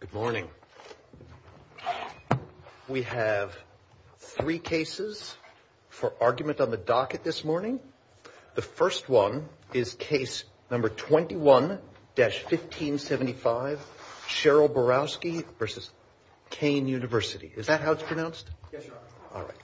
Good morning. We have three cases for argument on the docket this morning. The first one is Case No. 21-1575, Cheryl Borowski v. Kean University. Is that how it's pronounced? Yes, Your Honor. All right.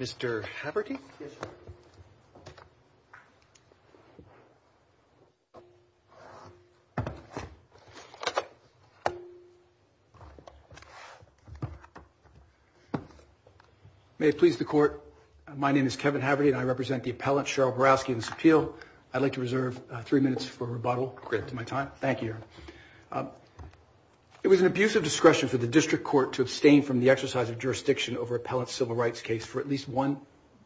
Mr. Haperty? Yes, Your Honor. May it please the Court, my name is Kevin Haperty and I represent the appellant Cheryl Borowski in this appeal. I'd like to reserve three minutes for rebuttal. Great. To my time. Thank you, Your Honor. It was an abuse of discretion for the district court to abstain from the exercise of jurisdiction over appellant's civil rights case for at least one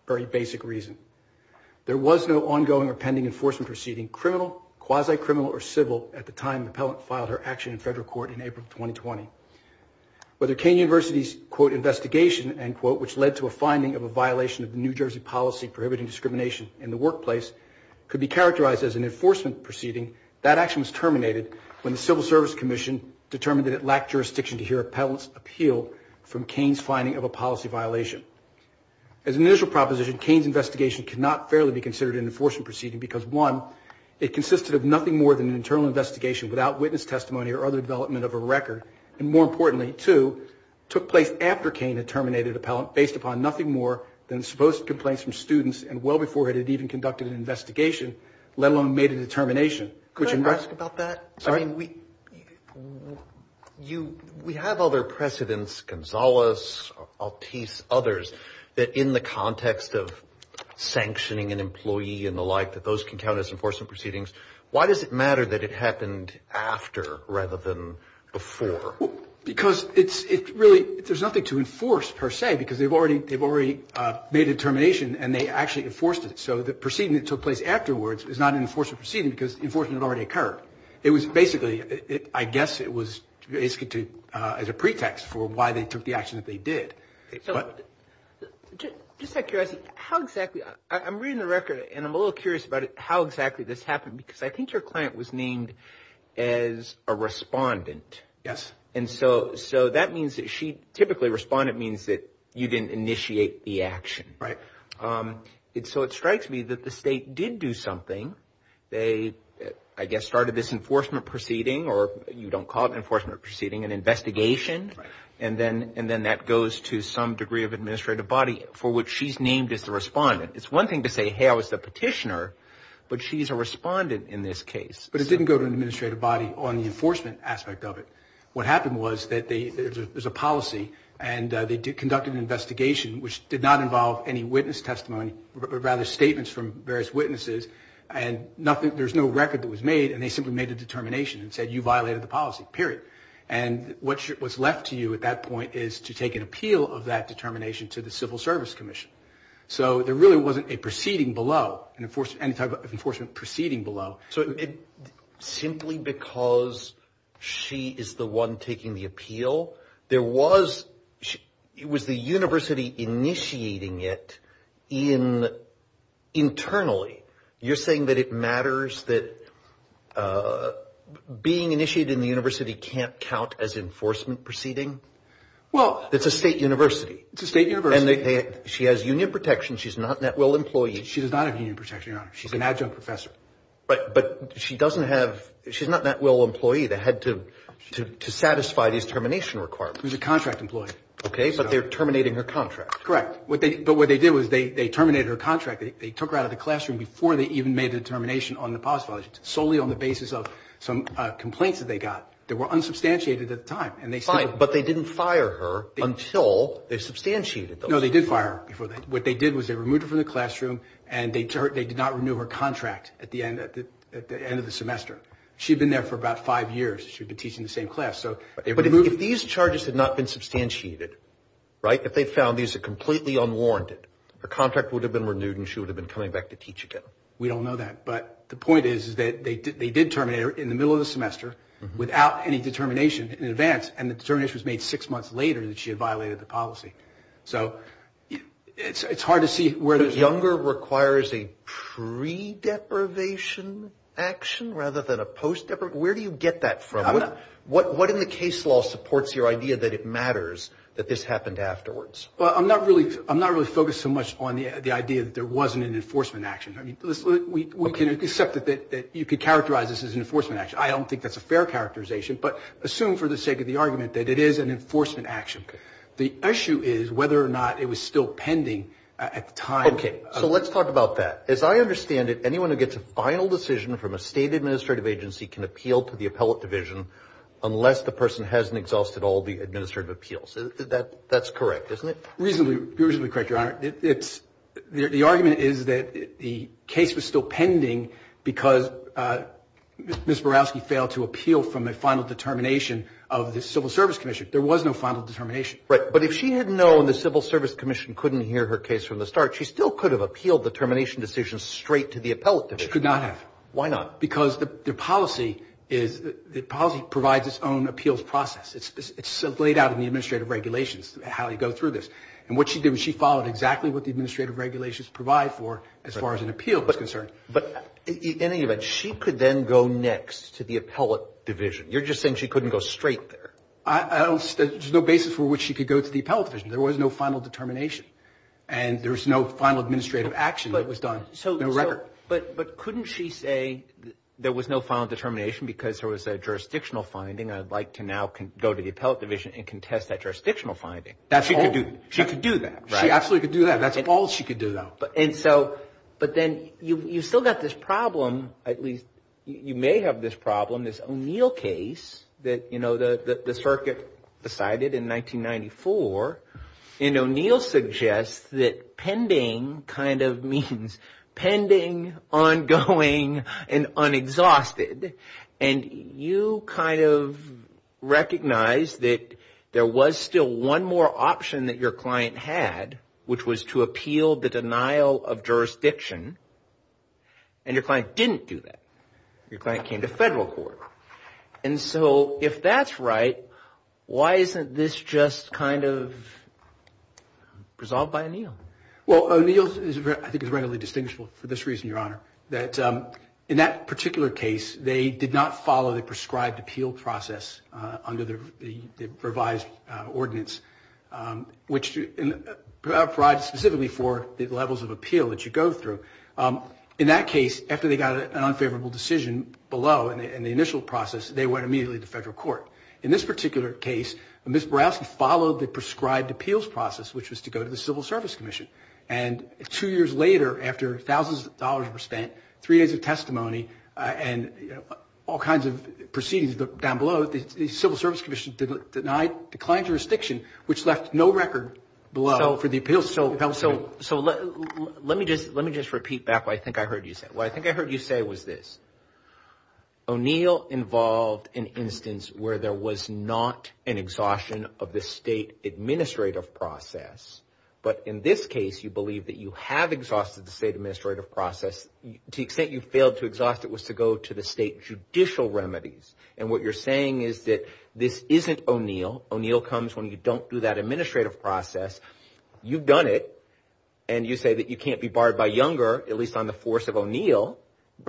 very basic reason. There was no ongoing or pending enforcement proceeding, criminal, quasi-criminal, or civil, at the time the appellant filed her action in federal court in April of 2020. Whether Kean University's, quote, investigation, end quote, which led to a finding of a violation of the New Jersey policy prohibiting discrimination in the workplace could be characterized as an enforcement proceeding, that action was terminated when the Civil Service Commission determined that it lacked jurisdiction to hear appellant's appeal from Kean's finding of a policy violation. As an initial proposition, Kean's investigation cannot fairly be considered an enforcement proceeding because, one, it consisted of nothing more than an internal investigation without witness testimony or other development of a record, and more importantly, two, took place after Kean had terminated appellant based upon nothing more than supposed complaints from students and well before it had even conducted an investigation, let alone made a determination. Could I ask about that? Sorry? I mean, we have other precedents, Gonzales, Altice, others, that in the context of sanctioning an employee and the like, that those can count as enforcement proceedings. Why does it matter that it happened after rather than before? Because it's really, there's nothing to enforce, per se, because they've already made a determination and they actually enforced it. So the proceeding that took place afterwards is not an enforcement proceeding because enforcement had already occurred. It was basically, I guess it was as a pretext for why they took the action that they did. So just out of curiosity, how exactly, I'm reading the record and I'm a little curious about how exactly this happened because I think your client was named as a respondent. Yes. And so that means that she typically, respondent means that you didn't initiate the action. Right. So it strikes me that the state did do something. They, I guess, started this enforcement proceeding or you don't call it an enforcement proceeding, an investigation. Right. And then that goes to some degree of administrative body for which she's named as the respondent. It's one thing to say, hey, I was the petitioner, but she's a respondent in this case. But it didn't go to an administrative body on the enforcement aspect of it. What happened was that there's a policy and they conducted an investigation which did not involve any witness testimony, but rather statements from various witnesses and nothing, there's no record that was made. And they simply made a determination and said, you violated the policy, period. And what was left to you at that point is to take an appeal of that determination to the Civil Service Commission. So there really wasn't a proceeding below, any type of enforcement proceeding below. So simply because she is the one taking the appeal, there was, it was the university initiating it internally. You're saying that it matters that being initiated in the university can't count as enforcement proceeding? Well. It's a state university. It's a state university. And she has union protection. She's not that well employed. She does not have union protection, Your Honor. She's an adjunct professor. Right. But she doesn't have, she's not that well employed to satisfy these termination requirements. She's a contract employee. Okay. But they're terminating her contract. Correct. But what they did was they terminated her contract. They took her out of the classroom before they even made a determination on the policy violation. Solely on the basis of some complaints that they got that were unsubstantiated at the time. Fine. But they didn't fire her until they substantiated those complaints. No. They did fire her. What they did was they removed her from the classroom and they did not renew her contract at the end of the semester. She'd been there for about five years. She'd been teaching the same class. So. But if these charges had not been substantiated, right, if they found these are completely unwarranted, her contract would have been renewed and she would have been coming back to teach again. We don't know that. But the point is that they did terminate her in the middle of the semester without any determination in advance. And the determination was made six months later that she had violated the policy. So it's hard to see where there's. Younger requires a pre-deprivation action rather than a post-deprivation. Where do you get that from? What in the case law supports your idea that it matters that this happened afterwards? Well, I'm not really, I'm not really focused so much on the idea that there wasn't an enforcement action. I mean, we can accept it that you could characterize this as an enforcement action. I don't think that's a fair characterization. But assume for the sake of the argument that it is an enforcement action. The issue is whether or not it was still pending at the time. OK, so let's talk about that. As I understand it, anyone who gets a final decision from a state administrative agency can appeal to the appellate division unless the person hasn't exhausted all the administrative appeals. That that's correct, isn't it? Reasonably, reasonably correct. Your Honor, it's the argument is that the case was still pending because Ms. Borowski failed to appeal from a final determination of the Civil Service Commission. There was no final determination. Right. But if she had known the Civil Service Commission couldn't hear her case from the start, she still could have appealed the termination decision straight to the appellate division. She could not have. Why not? Because the policy is the policy provides its own appeals process. It's laid out in the administrative regulations how you go through this. And what she did was she followed exactly what the administrative regulations provide for as far as an appeal is concerned. But in any event, she could then go next to the appellate division. You're just saying she couldn't go straight there. I don't know. There's no basis for which she could go to the appellate division. There was no final determination and there was no final administrative action that was done. So no record. But but couldn't she say there was no final determination because there was a jurisdictional finding? I'd like to now go to the appellate division and contest that jurisdictional finding. That's what she could do. She could do that. She absolutely could do that. That's all she could do, though. And so but then you've still got this problem, at least you may have this problem, this O'Neill case that, you know, the circuit decided in 1994. And O'Neill suggests that pending kind of means pending, ongoing and unexhausted. And you kind of recognized that there was still one more option that your client had, which was to appeal the denial of jurisdiction. And your client didn't do that. Your client came to federal court. And so if that's right, why isn't this just kind of resolved by O'Neill? Well, O'Neill, I think, is readily distinguishable for this reason, Your Honor, that in that particular case, they did not follow the prescribed appeal process under the revised ordinance, which provides specifically for the levels of appeal that you go through. In that case, after they got an unfavorable decision below in the initial process, they went immediately to federal court. In this particular case, Ms. Borowski followed the prescribed appeals process, which was to go to the Civil Service Commission. And two years later, after thousands of dollars were spent, three days of testimony and all kinds of proceedings down below, the Civil Service Commission denied the client jurisdiction, which left no record below for the appeals. So let me just repeat back what I think I heard you say. What I think I heard you say was this. O'Neill involved an instance where there was not an exhaustion of the state administrative process. But in this case, you believe that you have exhausted the state administrative process. To the extent you failed to exhaust it was to go to the state judicial remedies. And what you're saying is that this isn't O'Neill. O'Neill comes when you don't do that administrative process. You've done it and you say that you can't be barred by Younger, at least on the force of O'Neill,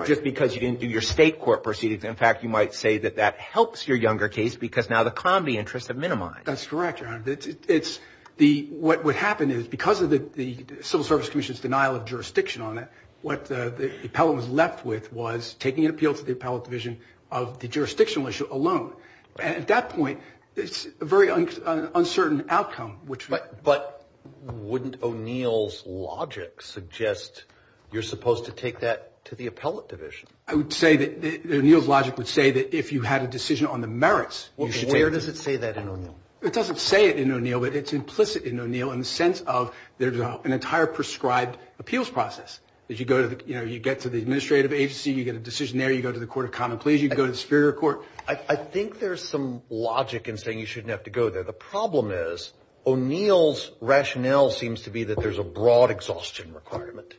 just because you didn't do your state court proceedings. In fact, you might say that that helps your Younger case because now the Combi interests have minimized. That's correct. It's the what would happen is because of the Civil Service Commission's denial of jurisdiction on it, what the appellate was left with was taking an appeal to the appellate division of the jurisdictional issue alone. And at that point, it's a very uncertain outcome. But wouldn't O'Neill's logic suggest you're supposed to take that to the appellate division? I would say that O'Neill's logic would say that if you had a decision on the merits, where does it say that in O'Neill? It doesn't say it in O'Neill, but it's implicit in O'Neill in the sense of there's an entire prescribed appeals process that you go to, you know, you get to the administrative agency, you get a decision there, you go to the Court of Common Pleas, you go to the Superior Court. I think there's some logic in saying you shouldn't have to go there. The problem is O'Neill's rationale seems to be that there's a broad exhaustion requirement.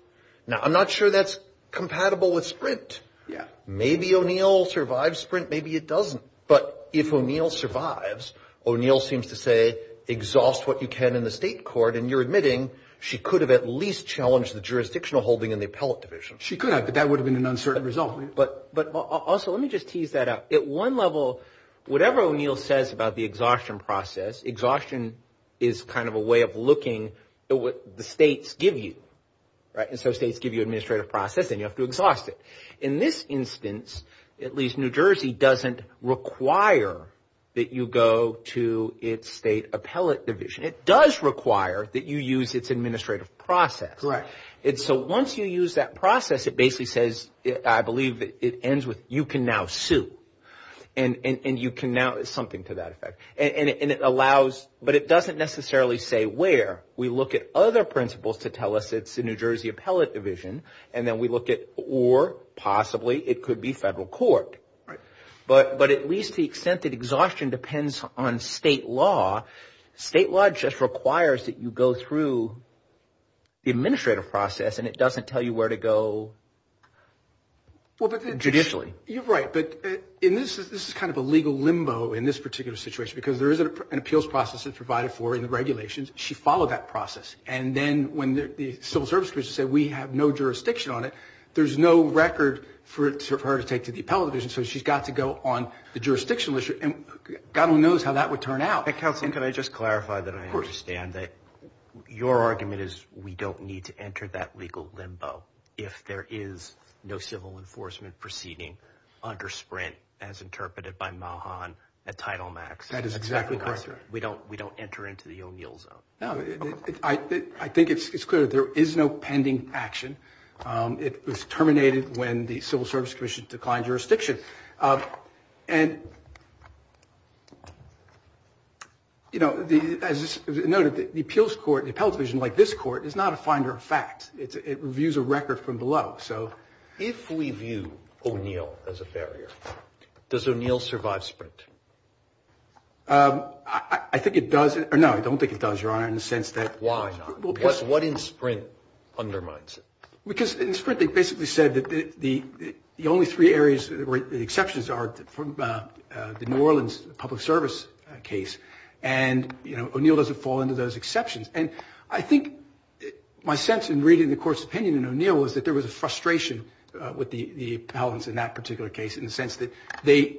Now, I'm not sure that's compatible with Sprint. Yeah. Maybe O'Neill survives Sprint. Maybe it doesn't. But if O'Neill survives, O'Neill seems to say exhaust what you can in the state court. And you're admitting she could have at least challenged the jurisdictional holding in the appellate division. She could have, but that would have been an uncertain result. But but also let me just tease that out. At one level, whatever O'Neill says about the exhaustion process, exhaustion is kind of a way of looking at what the states give you. Right. And so states give you administrative process and you have to exhaust it. In this instance, at least New Jersey doesn't require that you go to its state appellate division. It does require that you use its administrative process. Right. And so once you use that process, it basically says, I believe it ends with you can now sue. And you can now something to that effect. And it allows. But it doesn't necessarily say where we look at other principles to tell us it's a New Jersey appellate division. And then we look at or possibly it could be federal court. Right. But but at least the extent that exhaustion depends on state law. State law just requires that you go through the administrative process and it doesn't tell you where to go judicially. You're right. But in this, this is kind of a legal limbo in this particular situation because there is an appeals process that's provided for in the regulations. She followed that process. And then when the civil service said we have no jurisdiction on it, there's no record for it for her to take to the appellate division. So she's got to go on the jurisdictional issue. And God only knows how that would turn out. Counselor, can I just clarify that? I understand that your argument is we don't need to enter that legal limbo if there is no civil enforcement proceeding under Sprint, as interpreted by Mahan at Title Max. That is exactly correct. We don't we don't enter into the O'Neill zone. No, I think it's clear there is no pending action. It was terminated when the Civil Service Commission declined jurisdiction. And. You know, as noted, the appeals court, the appellate division, like this court, is not a finder of fact. It reviews a record from below. So if we view O'Neill as a barrier, does O'Neill survive Sprint? I think it does or no, I don't think it does, Your Honor, in the sense that. Why not? What in Sprint undermines it? Because in Sprint they basically said that the only three areas where the exceptions are from the New Orleans public service case. And, you know, O'Neill doesn't fall into those exceptions. And I think my sense in reading the court's opinion in O'Neill was that there was a frustration with the appellants in that particular case, in the sense that they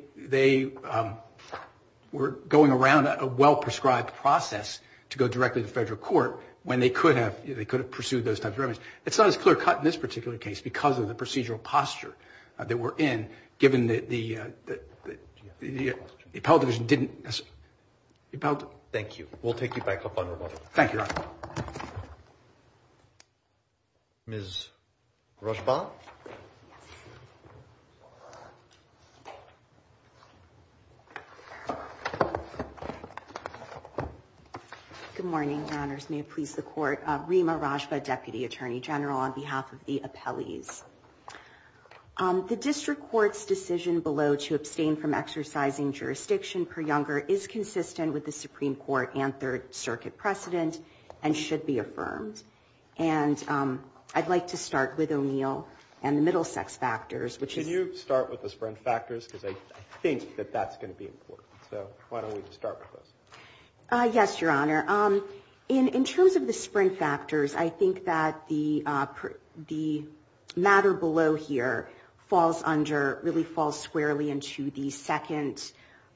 were going around a well-prescribed process to go directly to federal court when they could have pursued those types of remedies. It's not as clear cut in this particular case because of the procedural posture that we're in, given that the appellate division didn't. Thank you. We'll take it back up on rebuttal. Thank you, Your Honor. Ms. Rajba. Good morning, Your Honors. May it please the Court. Rima Rajba, Deputy Attorney General, on behalf of the appellees. The district court's decision below to abstain from exercising jurisdiction per younger is inconsistent with the Supreme Court and Third Circuit precedent and should be affirmed. And I'd like to start with O'Neill and the Middlesex factors, which is... Can you start with the Sprint factors? Because I think that that's going to be important. So why don't we just start with those? Yes, Your Honor. In terms of the Sprint factors, I think that the matter below here falls under, really falls squarely into the second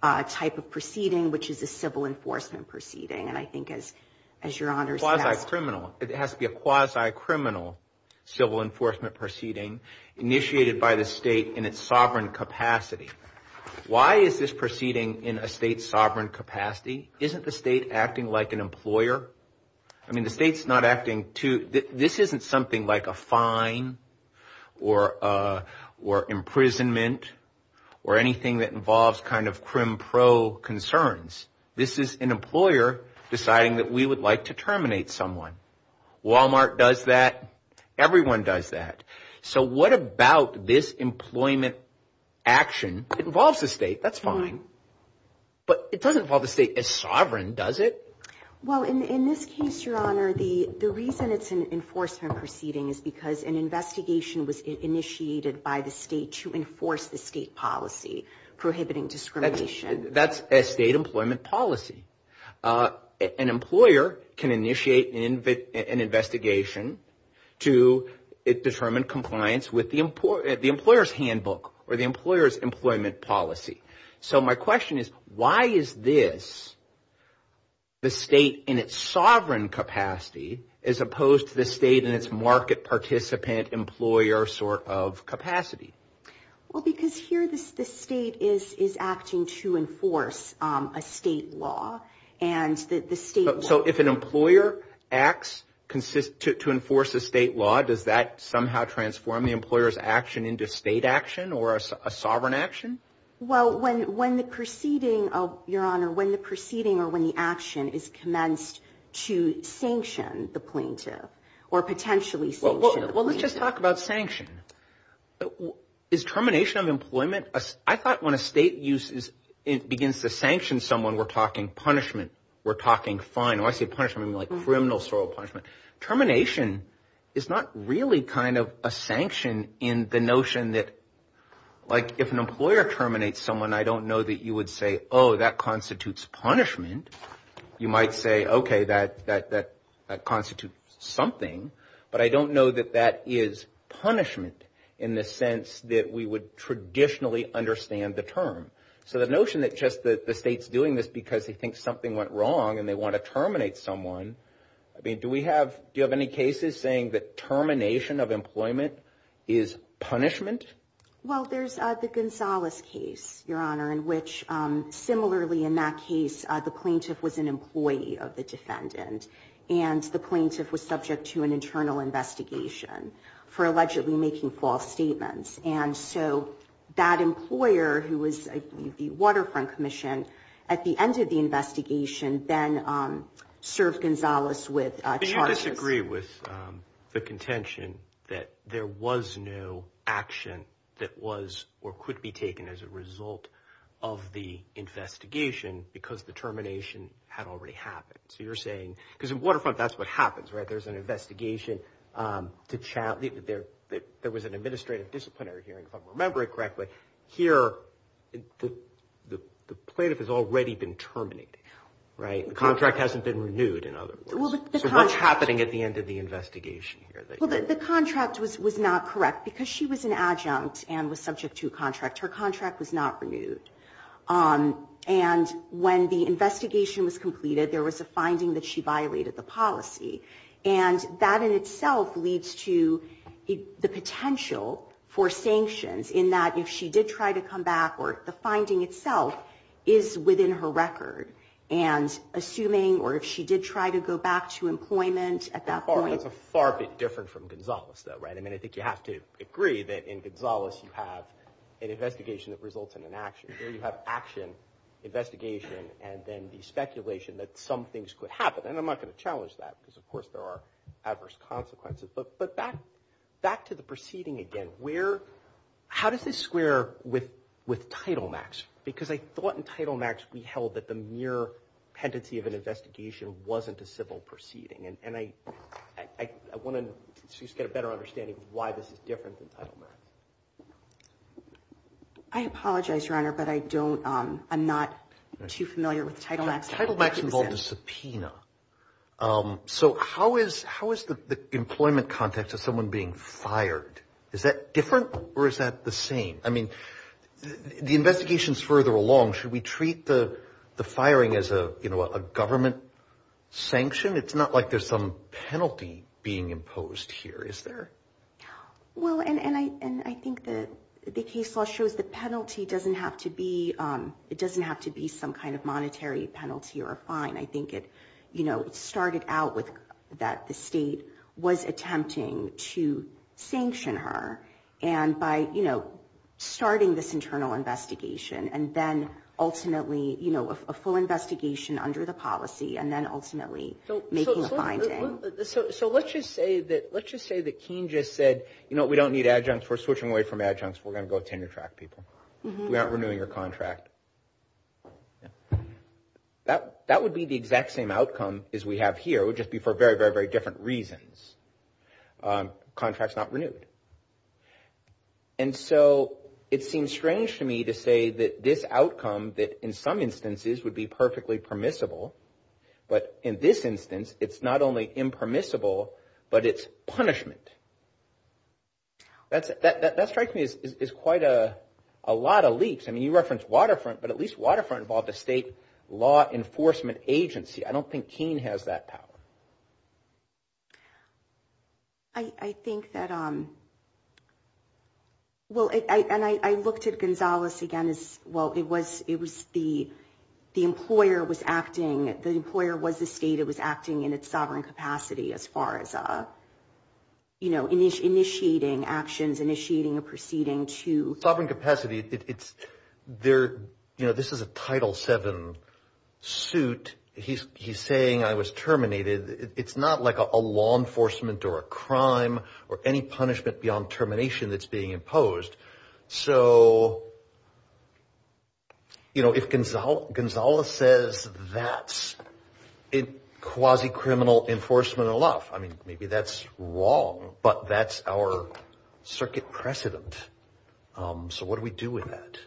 type of proceeding, which is a civil enforcement proceeding. And I think as, as Your Honors... Quasi-criminal. It has to be a quasi-criminal civil enforcement proceeding initiated by the state in its sovereign capacity. Why is this proceeding in a state's sovereign capacity? Isn't the state acting like an employer? I mean, the state's not acting to... This isn't something like a fine or imprisonment or anything that involves kind of crim-pro concerns. This is an employer deciding that we would like to terminate someone. Walmart does that. Everyone does that. So what about this employment action? It involves the state. That's fine. But it doesn't involve the state as sovereign, does it? Well, in this case, Your Honor, the reason it's an enforcement proceeding is because an investigation was initiated by the state to enforce the state policy prohibiting discrimination. That's a state employment policy. An employer can initiate an investigation to determine compliance with the employer's handbook or the employer's employment policy. So my question is, why is this the state in its sovereign capacity as opposed to the state in its market participant employer sort of capacity? Well, because here the state is acting to enforce a state law and that the state... So if an employer acts to enforce a state law, does that somehow transform the employer's action into state action or a sovereign action? Well, when the proceeding, Your Honor, when the proceeding or when the action is commenced to sanction the plaintiff or potentially sanction the plaintiff. Well, let's just talk about sanction. Is termination of employment? I thought when a state uses it begins to sanction someone, we're talking punishment. We're talking fine. When I say punishment, I mean like criminal sort of punishment. Termination is not really kind of a sanction in the notion that like if an employer terminates someone, I don't know that you would say, oh, that constitutes punishment. You might say, OK, that constitutes something. But I don't know that that is punishment in the sense that we would traditionally understand the term. So the notion that just the state's doing this because they think something went wrong and they want to terminate someone. I mean, do we have do you have any cases saying that termination of employment is punishment? Well, there's the Gonzales case, Your Honor, in which similarly in that case, the plaintiff was an employee of the defendant and the plaintiff was subject to an internal investigation for allegedly making false statements. And so that employer, who was the Waterfront Commission, at the end of the investigation, then served Gonzales with charges. I agree with the contention that there was no action that was or could be taken as a result of the investigation because the termination had already happened. So you're saying because in Waterfront, that's what happens, right? There's an investigation to challenge that there was an administrative disciplinary hearing, if I remember it correctly. Here, the plaintiff has already been terminated, right? The contract hasn't been renewed. In other words, what's happening at the end of the investigation? Well, the contract was not correct because she was an adjunct and was subject to a contract. Her contract was not renewed. And when the investigation was completed, there was a finding that she violated the policy. And that in itself leads to the potential for sanctions in that if she did try to come back or the finding itself is within her record. And assuming or if she did try to go back to employment at that point. That's a far bit different from Gonzales, though, right? I mean, I think you have to agree that in Gonzales, you have an investigation that results in an action. Here you have action, investigation, and then the speculation that some things could happen. And I'm not going to challenge that because, of course, there are adverse consequences. But back to the proceeding again, how does this square with Title Max? Because I thought in Title Max we held that the mere pendency of an investigation wasn't a civil proceeding. And I want to get a better understanding of why this is different than Title Max. I apologize, Your Honor, but I don't I'm not too familiar with Title Max. Title Max involved a subpoena. So how is how is the employment context of someone being fired? Is that different or is that the same? I mean, the investigations further along, should we treat the the firing as a government sanction? It's not like there's some penalty being imposed here, is there? Well, and I and I think that the case law shows the penalty doesn't have to be it doesn't have to be some kind of monetary penalty or a fine. I think it started out with that the state was attempting to sanction her. And by, you know, starting this internal investigation and then ultimately, you know, a full investigation under the policy and then ultimately making a finding. So let's just say that let's just say that Keene just said, you know, we don't need adjuncts. We're switching away from adjuncts. We're going to go tenure track people. We aren't renewing your contract. That that would be the exact same outcome as we have here would just be for very, very, very different reasons. Contracts not renewed. And so it seems strange to me to say that this outcome that in some instances would be perfectly permissible, but in this instance, it's not only impermissible, but it's punishment. That's that strikes me as quite a lot of leaks. I mean, you reference Waterfront, but at least Waterfront involved the state law enforcement agency. I don't think Keene has that power. I think that, well, and I looked at Gonzales again, as well, it was it was the the employer was acting, the employer was the state, it was acting in its sovereign capacity as far as, you know, initiating actions, initiating a proceeding to. Sovereign capacity. It's there. You know, this is a Title seven suit. He's he's saying I was terminated. It's not like a law enforcement or a crime or any punishment beyond termination that's being imposed. So. You know, if Gonzales says that's it, quasi criminal enforcement of law, I mean, maybe that's wrong, but that's our circuit precedent. So what do we do with that?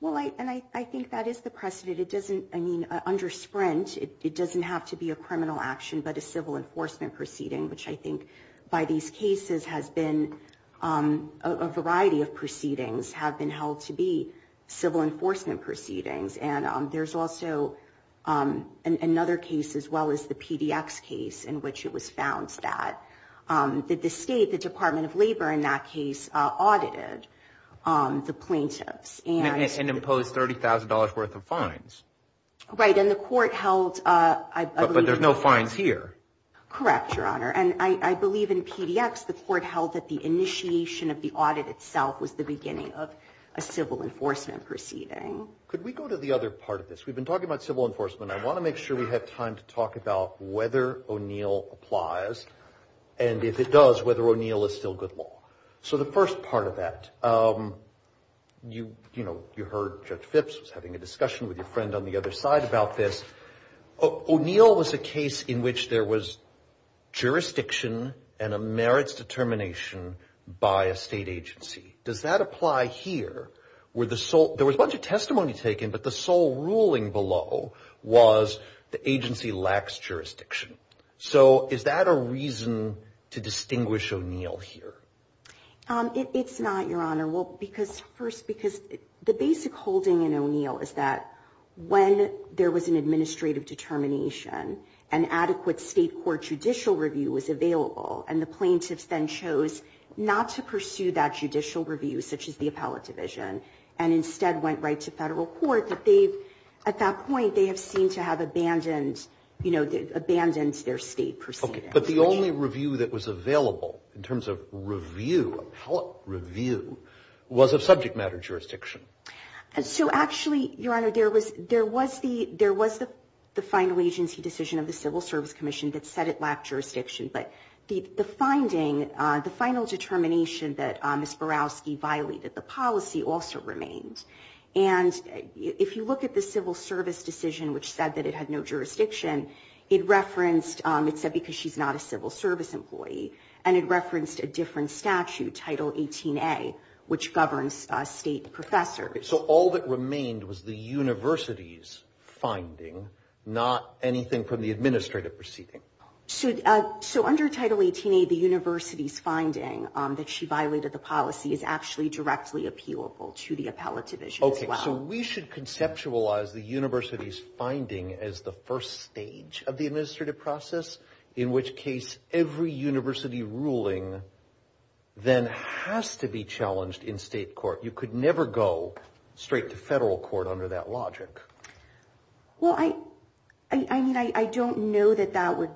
Well, and I think that is the precedent. It doesn't I mean, under Sprint, it doesn't have to be a criminal action. But a civil enforcement proceeding, which I think by these cases has been a variety of proceedings have been held to be civil enforcement proceedings. And there's also another case, as well as the PDX case in which it was found that the state, the Department of Labor, in that case, audited the plaintiffs and imposed thirty thousand dollars worth of fines. Right. And the court held. But there's no fines here. Correct, Your Honor. And I believe in PDX, the court held that the initiation of the audit itself was the beginning of a civil enforcement proceeding. Could we go to the other part of this? We've been talking about civil enforcement. I want to make sure we have time to talk about whether O'Neill applies and if it does, whether O'Neill is still good law. So the first part of that, you know, you heard Judge Phipps was having a discussion with your friend on the other side about this. O'Neill was a case in which there was jurisdiction and a merits determination by a state agency. Does that apply here where the sole there was a bunch of testimony taken, but the sole ruling below was the agency lacks jurisdiction. So is that a reason to distinguish O'Neill here? It's not, Your Honor. Well, because first, because the basic holding in O'Neill is that when there was an administrative determination, an adequate state court judicial review was available and the plaintiffs then chose not to pursue that judicial review, such as the appellate division, and instead went right to federal court, that they've at that point, they have seemed to have abandoned, you know, abandoned their state proceeding. But the only review that was available in terms of review, appellate review, was of subject matter jurisdiction. So actually, Your Honor, there was the final agency decision of the Civil Service Commission that said it lacked jurisdiction. But the finding, the final determination that Ms. Borowski violated the policy also remained. And if you look at the Civil Service decision, which said that it had no jurisdiction, it referenced, it said because she's not a civil service employee and it referenced a different statute, Title 18A, which governs state professors. So all that remained was the university's finding, not anything from the administrative proceeding. So under Title 18A, the university's finding that she violated the policy is actually directly appealable to the appellate division as well. So we should conceptualize the university's finding as the first stage of the administrative process, in which case every university ruling then has to be challenged in state court. You could never go straight to federal court under that logic. Well, I mean, I don't know that that would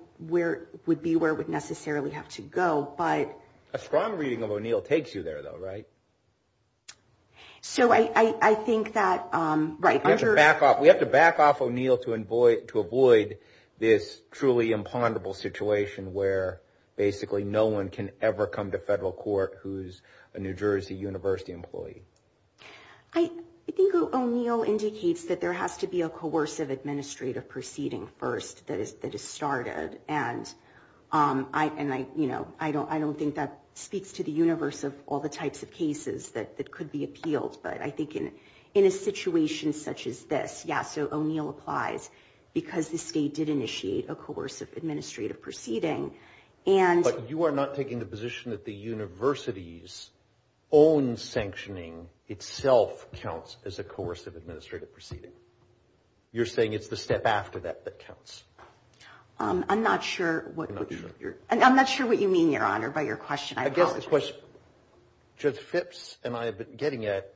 be where it would necessarily have to go, but. A strong reading of O'Neill takes you there, though, right? So I think that, right. We have to back off O'Neill to avoid this truly imponderable situation where basically no one can ever come to federal court who's a New Jersey university employee. I think O'Neill indicates that there has to be a coercive administrative proceeding first that is started. And I don't think that speaks to the universe of all the types of cases that could be appealed. But I think in a situation such as this, yeah, so O'Neill applies because the state did initiate a coercive administrative proceeding. But you are not taking the position that the university's own sanctioning itself counts as a coercive administrative proceeding. I'm not sure what you're and I'm not sure what you mean, Your Honor, by your question. I guess the question, Judge Phipps and I have been getting at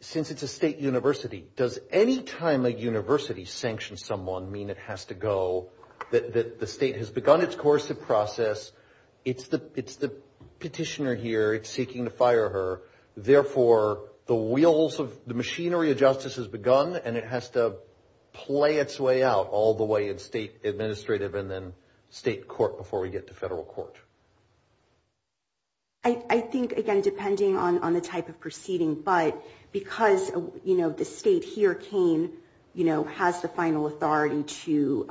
since it's a state university, does any time a university sanctions someone mean it has to go that the state has begun its coercive process? It's the it's the petitioner here. It's seeking to fire her. Therefore, the wheels of the machinery of justice has begun and it has to play its way out all the way in state administrative and then state court before we get to federal court. I think, again, depending on the type of proceeding, but because, you know, the state here came, you know, has the final authority to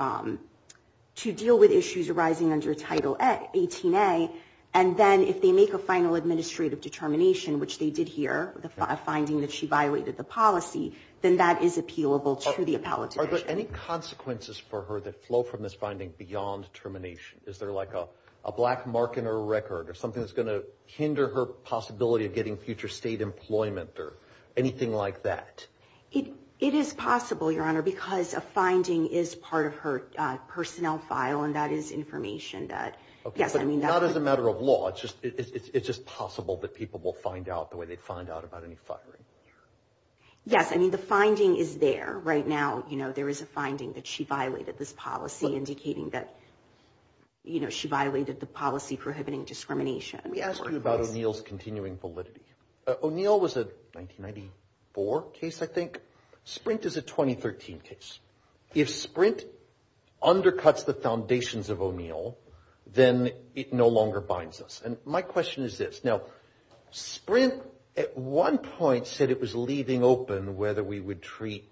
to deal with issues arising under Title 18A. And then if they make a final administrative determination, which they did here, a finding that she violated the policy, then that is appealable to the appellate. Are there any consequences for her that flow from this finding beyond termination? Is there like a a black mark in her record or something that's going to hinder her possibility of getting future state employment or anything like that? It it is possible, Your Honor, because a finding is part of her personnel file. And that is information that, yes, I mean, that is a matter of law. It's just it's just possible that people will find out the way they find out about any firing. Yes, I mean, the finding is there right now. You know, there is a finding that she violated this policy, indicating that, you know, she violated the policy prohibiting discrimination. Let me ask you about O'Neill's continuing validity. O'Neill was a 1994 case. I think Sprint is a 2013 case. If Sprint undercuts the foundations of O'Neill, then it no longer binds us. And my question is this. Now, Sprint at one point said it was leaving open whether we would treat.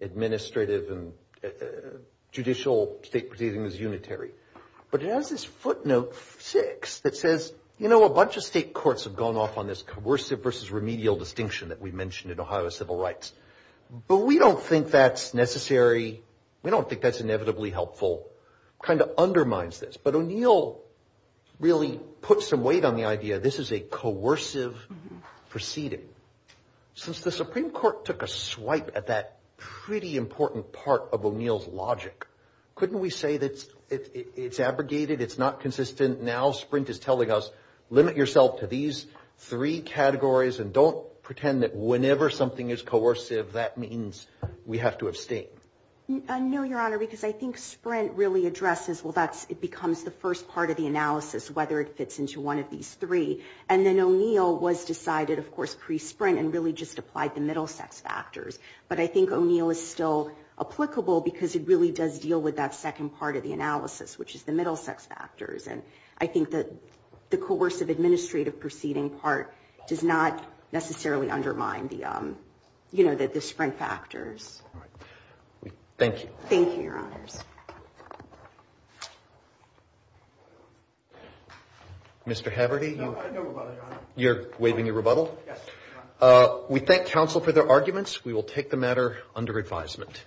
Administrative and judicial state proceeding is unitary, but it has this footnote six that says, you know, a bunch of state courts have gone off on this coercive versus remedial distinction that we mentioned in Ohio civil rights, but we don't think that's necessary. We don't think that's inevitably helpful, kind of undermines this. But O'Neill really put some weight on the idea this is a coercive proceeding since the Supreme Court took a swipe at that pretty important part of O'Neill's logic. Couldn't we say that it's abrogated? It's not consistent. Now, Sprint is telling us limit yourself to these three categories and don't pretend that whenever something is coercive, that means we have to abstain. No, Your Honor, because I think Sprint really addresses, well, that's it becomes the first part of the analysis, whether it fits into one of these three. And then O'Neill was decided, of course, pre-Sprint and really just applied the middle sex factors. But I think O'Neill is still applicable because it really does deal with that second part of the analysis, which is the middle sex factors. And I think that the coercive administrative proceeding part does not necessarily undermine the, you know, the Sprint factors. Thank you. Thank you, Your Honors. Mr. Haverty, you're waiving your rebuttal. We thank counsel for their arguments. We will take the matter under advisement.